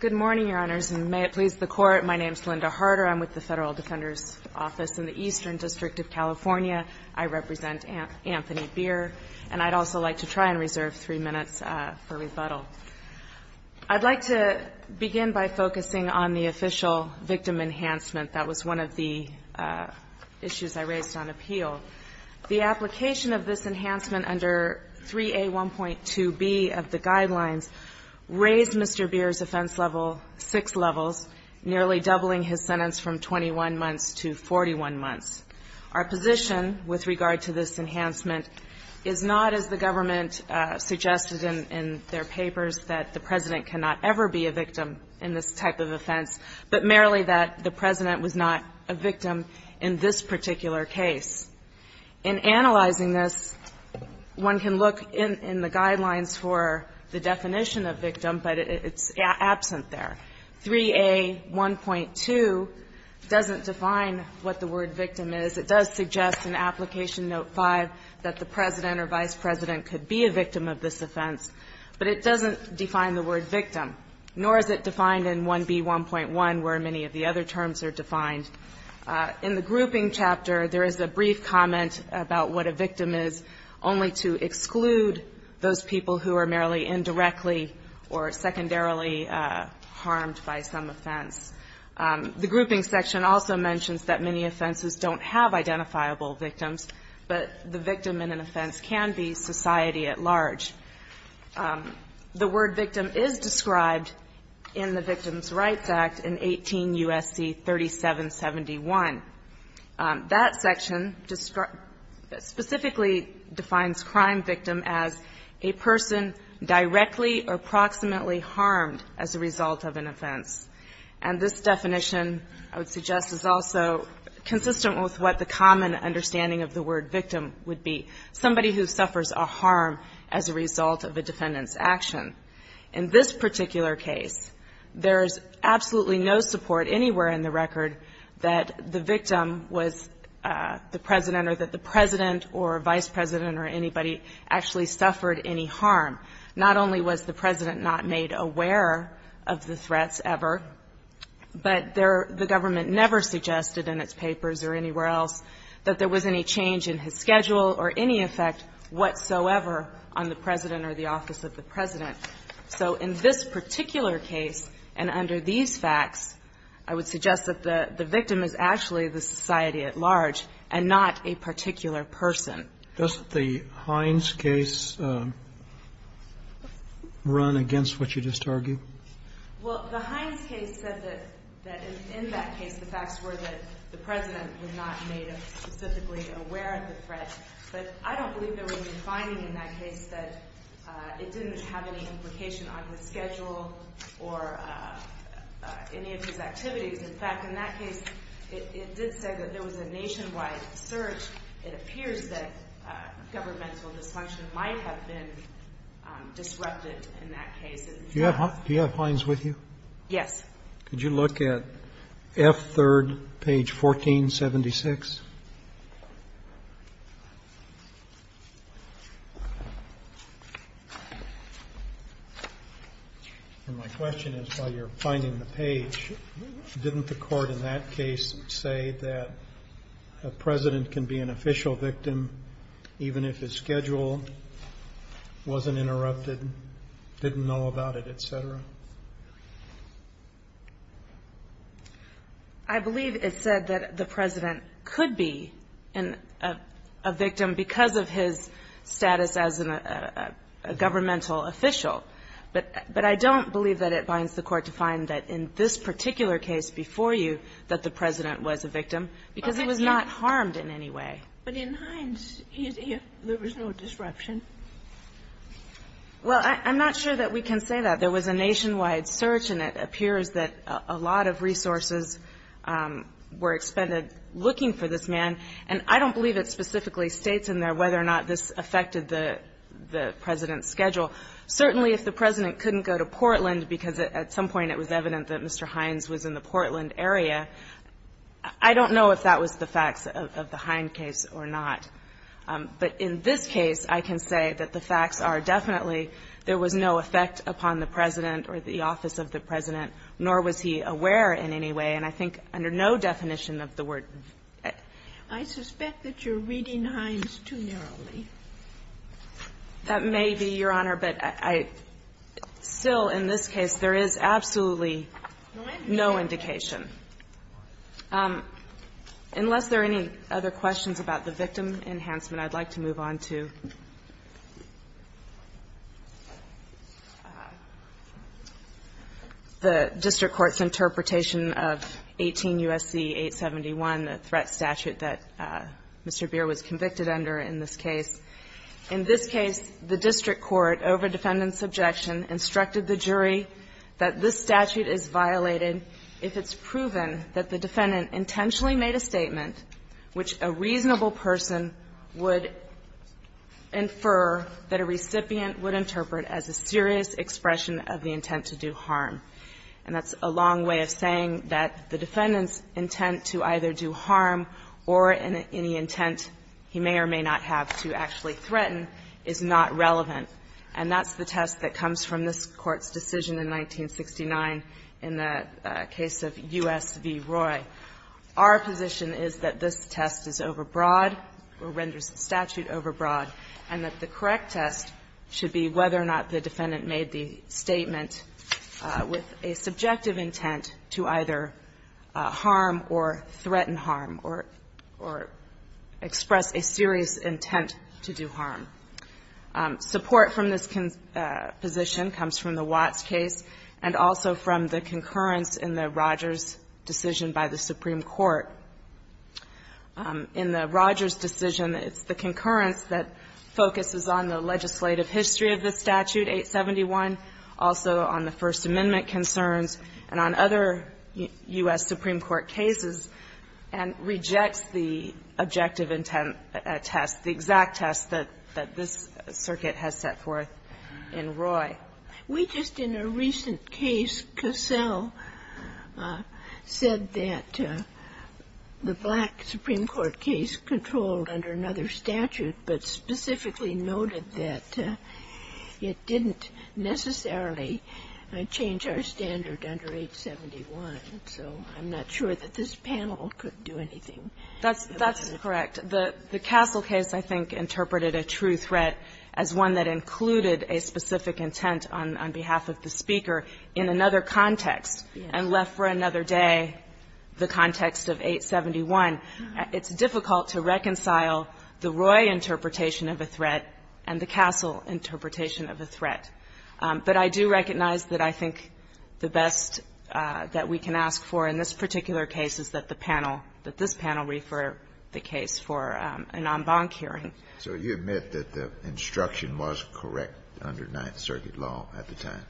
Good morning, Your Honors, and may it please the Court, my name is Linda Harder. I'm with the Federal Defender's Office in the Eastern District of California. I represent Anthony Bier, and I'd also like to try and reserve three minutes for rebuttal. I'd like to begin by focusing on the official victim enhancement. That was one of the issues I raised on appeal. The application of this enhancement under 3A1.2b of the guidelines raised Mr. Bier's offense level six levels, nearly doubling his sentence from 21 months to 41 months. Our position with regard to this enhancement is not, as the government suggested in their papers, that the President cannot ever be a victim in this type of offense, but merely that the President was not a victim in this particular case. In analyzing this, one can look in the guidelines for the definition of victim, but it's absent there. 3A1.2 doesn't define what the word victim is. It does suggest in Application Note 5 that the President or Vice President could be a victim of this offense, but it doesn't define the word victim, nor is it defined in 1B1.1, where many of the other terms are defined. In the grouping chapter, there is a brief comment about what a victim is, only to exclude those people who are merely indirectly or secondarily harmed by some offense. The grouping section also mentions that many offenses don't have identifiable victims, but the victim in an offense can be society at large. The word victim is described in the Victims' Rights Act in 18 U.S.C. 3771. That section specifically defines crime victim as a person directly or proximately harmed as a result of an offense. And this definition, I would suggest, is also consistent with what the common understanding of the word victim would be, somebody who suffers a harm as a result of a defendant's action. In this particular case, there is absolutely no support anywhere in the record that the victim was the President or that the President or Vice President or anybody actually suffered any harm. Not only was the President not made aware of the threats ever, but there the government never suggested in its papers or anywhere else that there was any change in his schedule or any effect whatsoever on the President or the office of the President. So in this particular case and under these facts, I would suggest that the victim is actually the society at large and not a particular person. Does the Hines case run against what you just argued? Well, the Hines case said that in that case the facts were that the President was not made specifically aware of the threat, but I don't believe there was any finding in that case that it didn't have any implication on his schedule or any of his activities. In fact, in that case, it did say that there was a nationwide search. It appears that governmental dysfunction might have been disrupted in that case. Do you have Hines with you? Yes. Could you look at F3rd, page 1476? And my question is, while you're finding the page, didn't the Court in that case say that a President can be an official victim even if his schedule wasn't interrupted, didn't know about it, et cetera? I believe it said that the President could be a victim because of his status as a governmental official. But I don't believe that it binds the Court to find that in this particular case before you that the President was a victim, because he was not harmed in any way. But in Hines, there was no disruption. Well, I'm not sure that we can say that. There was a nationwide search, and it appears that a lot of resources were expended looking for this man. And I don't believe it specifically states in there whether or not this affected the President's schedule. Certainly, if the President couldn't go to Portland because at some point it was evident that Mr. Hines was in the Portland area, I don't know if that was the facts of the Hines case or not. But in this case, I can say that the facts are definitely there was no effect upon the President or the office of the President, nor was he aware in any way. And I think under no definition of the word. I suspect that you're reading Hines too narrowly. That may be, Your Honor, but I still, in this case, there is absolutely no indication. Unless there are any other questions about the victim enhancement, I'd like to move on to the district court's interpretation of 18 U.S.C. 871, the threat statute that Mr. Beer was convicted under in this case. In this case, the district court, over defendant's objection, instructed the jury that this statute is violated if it's proven that the defendant intentionally made a statement which a reasonable person would infer that a recipient would interpret as a serious expression of the intent to do harm. And that's a long way of saying that the defendant's intent to either do harm or any intent he may or may not have to actually threaten is not relevant. And that's the test that comes from this Court's decision in 1969 in the case of U.S. v. Roy. Our position is that this test is overbroad or renders the statute overbroad and that the correct test should be whether or not the defendant made the statement with a subjective intent to either harm or threaten harm or express a serious intent to do harm. Support from this position comes from the Watts case and also from the concurrence in the Rogers decision by the Supreme Court. In the Rogers decision, it's the concurrence that focuses on the legislative history of the statute, 871, also on the First Amendment concerns and on other U.S. Supreme Court cases, and rejects the objective intent test, the exact test that this circuit has set forth in Roy. We just in a recent case, Cassell said that the black Supreme Court case controlled under another statute, but specifically noted that it didn't necessarily change our standard under 871. So I'm not sure that this panel could do anything. That's correct. The Cassell case, I think, interpreted a true threat as one that included a specific intent on behalf of the speaker in another context and left for another day the context of 871. It's difficult to reconcile the Roy interpretation of a threat and the Cassell interpretation of a threat. But I do recognize that I think the best that we can ask for in this particular case is that the panel, that this panel refer the case for an en banc hearing. So you admit that the instruction was correct under Ninth Circuit law at the time?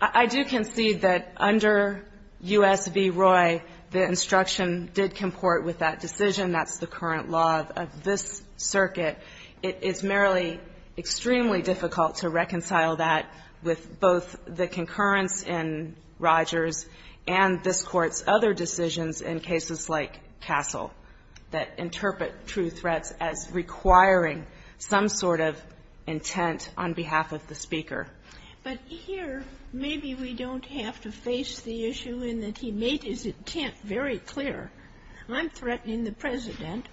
I do concede that under U.S. v. Roy, the instruction did comport with that decision. That's the current law of this circuit. It's merely extremely difficult to reconcile that with both the concurrence in Rogers and this Court's other decisions in cases like Cassell that interpret true threats as requiring some sort of intent on behalf of the speaker. But here, maybe we don't have to face the issue in that he made his intent very clear. I'm threatening the President.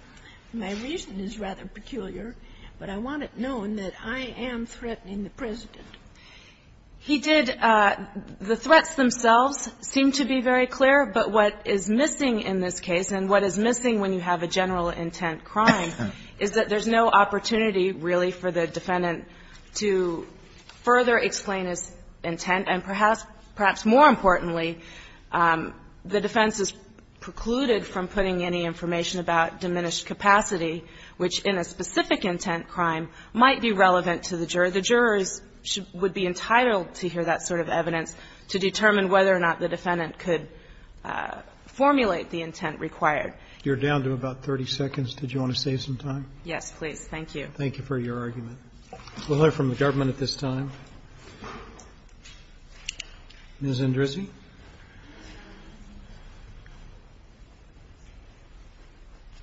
My reason is rather peculiar, but I want it known that I am threatening the President. He did the threats themselves seem to be very clear. But what is missing in this case, and what is missing when you have a general intent crime, is that there's no opportunity really for the defendant to further explain his intent, and perhaps more importantly, the defense is precluded from putting any information about diminished capacity, which in a specific intent crime might be relevant to the juror. The jurors would be entitled to hear that sort of evidence to determine whether or not the defendant could formulate the intent required. You're down to about 30 seconds. Did you want to save some time? Yes, please. Thank you. Thank you for your argument. We'll hear from the government at this time. Ms. Andresi.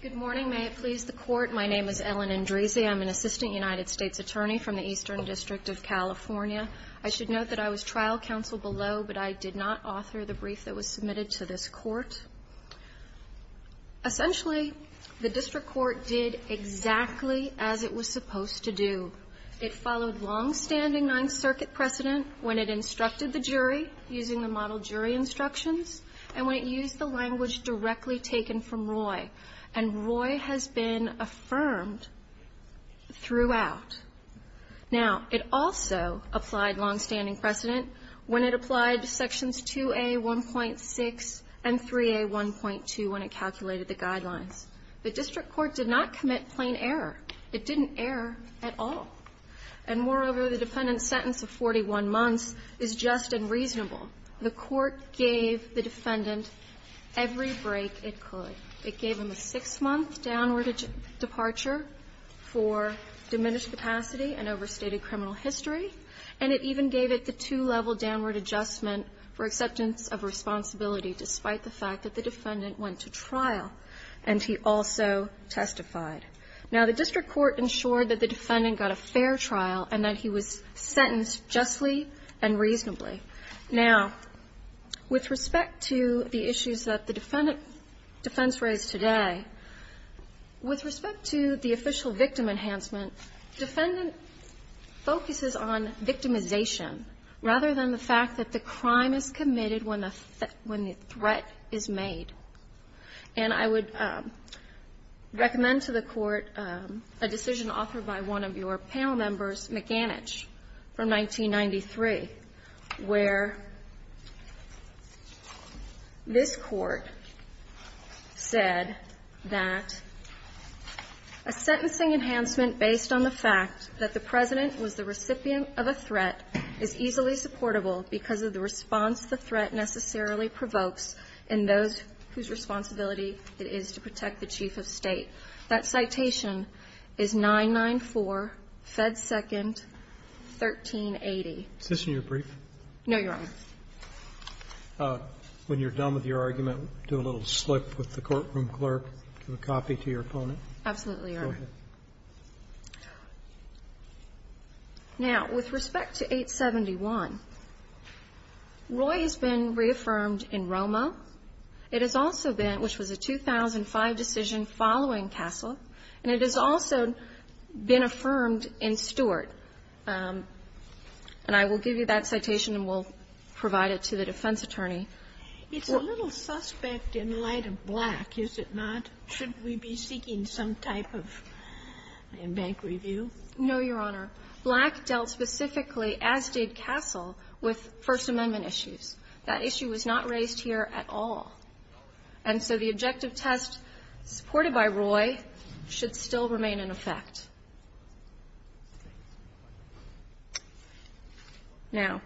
Good morning. May it please the Court. My name is Ellen Andresi. I'm an assistant United States attorney from the Eastern District of California. I should note that I was trial counsel below, but I did not author the brief that was submitted to this Court. Essentially, the district court did exactly as it was supposed to do. It followed longstanding Ninth Circuit precedent when it instructed the jury using the model jury instructions, and when it used the language directly taken from Roy. And Roy has been affirmed throughout. Now, it also applied longstanding precedent when it applied sections 2A.1.6 and 3A.1.2 when it calculated the guidelines. The district court did not commit plain error. It didn't err at all. And moreover, the defendant's sentence of 41 months is just and reasonable. The court gave the defendant every break it could. It gave him a six-month downward departure for diminished capacity and overstated criminal history. And it even gave it the two-level downward adjustment for acceptance of responsibility despite the fact that the defendant went to trial, and he also testified. Now, the district court ensured that the defendant got a fair trial and that he was sentenced justly and reasonably. Now, with respect to the issues that the defendant defense raised today, with respect to the official victim enhancement, defendant focuses on victimization rather than the fact that the crime is committed when the threat is made. And I would recommend to the Court a decision authored by one of your panel members, McAnitch, from 1993. Where this Court said that a sentencing enhancement based on the fact that the President was the recipient of a threat is easily supportable because of the response the threat necessarily provokes in those whose responsibility it is to protect the Chief of State. That citation is 994, Fed Second, 1380. Is this in your brief? No, Your Honor. When you're done with your argument, do a little slip with the courtroom clerk, give a copy to your opponent. Absolutely, Your Honor. Go ahead. Now, with respect to 871, Roy has been reaffirmed in Roma. It has also been, which was a 2005 decision following Castle, and it has also been affirmed in Stewart. And I will give you that citation, and we'll provide it to the defense attorney. It's a little suspect in light of Black, is it not? Should we be seeking some type of bank review? No, Your Honor. Black dealt specifically, as did Castle, with First Amendment issues. That issue was not raised here at all. And so the objective test supported by Roy should still remain in effect. Now,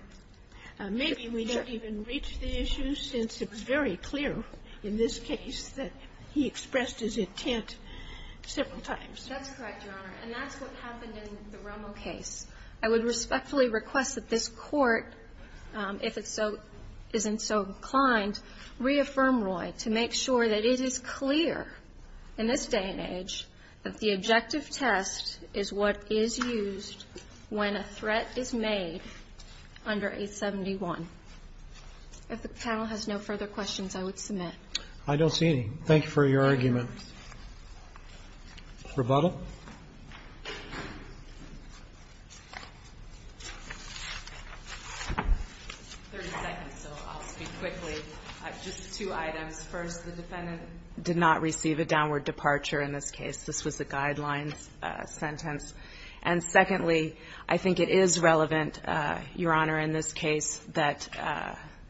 if you're going to go to the court, you're going to have to go to the judge. Maybe we don't even reach the issue, since it was very clear in this case that he expressed his intent several times. That's correct, Your Honor. And that's what happened in the Romo case. I would respectfully request that this Court, if it so isn't so inclined, reaffirm Roy to make sure that it is clear in this day and age that the objective test is what is used when a threat is made under 871. If the panel has no further questions, I would submit. I don't see any. Thank you for your argument. Rebuttal? Thirty seconds, so I'll speak quickly. Just two items. First, the defendant did not receive a downward departure in this case. This was a guidelines sentence. And secondly, I think it is relevant, Your Honor, in this case that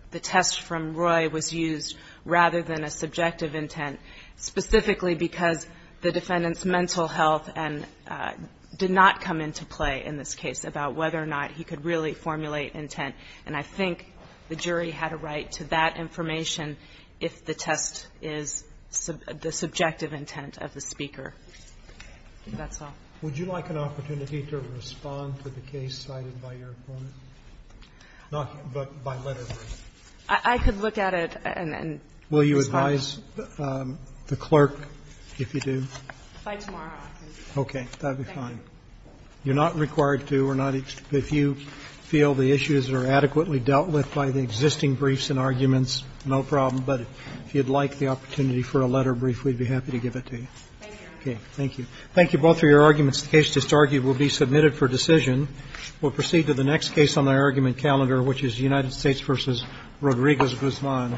the test from specifically because the defendant's mental health and did not come into play in this case about whether or not he could really formulate intent. And I think the jury had a right to that information if the test is the subjective intent of the speaker. That's all. Would you like an opportunity to respond to the case cited by your opponent? Not by letter, but by letter. I could look at it and respond. I apologize, the clerk, if you do. By tomorrow afternoon. Okay, that would be fine. You're not required to or not if you feel the issues are adequately dealt with by the existing briefs and arguments, no problem. But if you'd like the opportunity for a letter brief, we'd be happy to give it to you. Thank you. Thank you. Thank you both for your arguments. The case just argued will be submitted for decision. We'll proceed to the next case on the argument calendar, which is United States v. Rodriguez-Guzman. Thank you.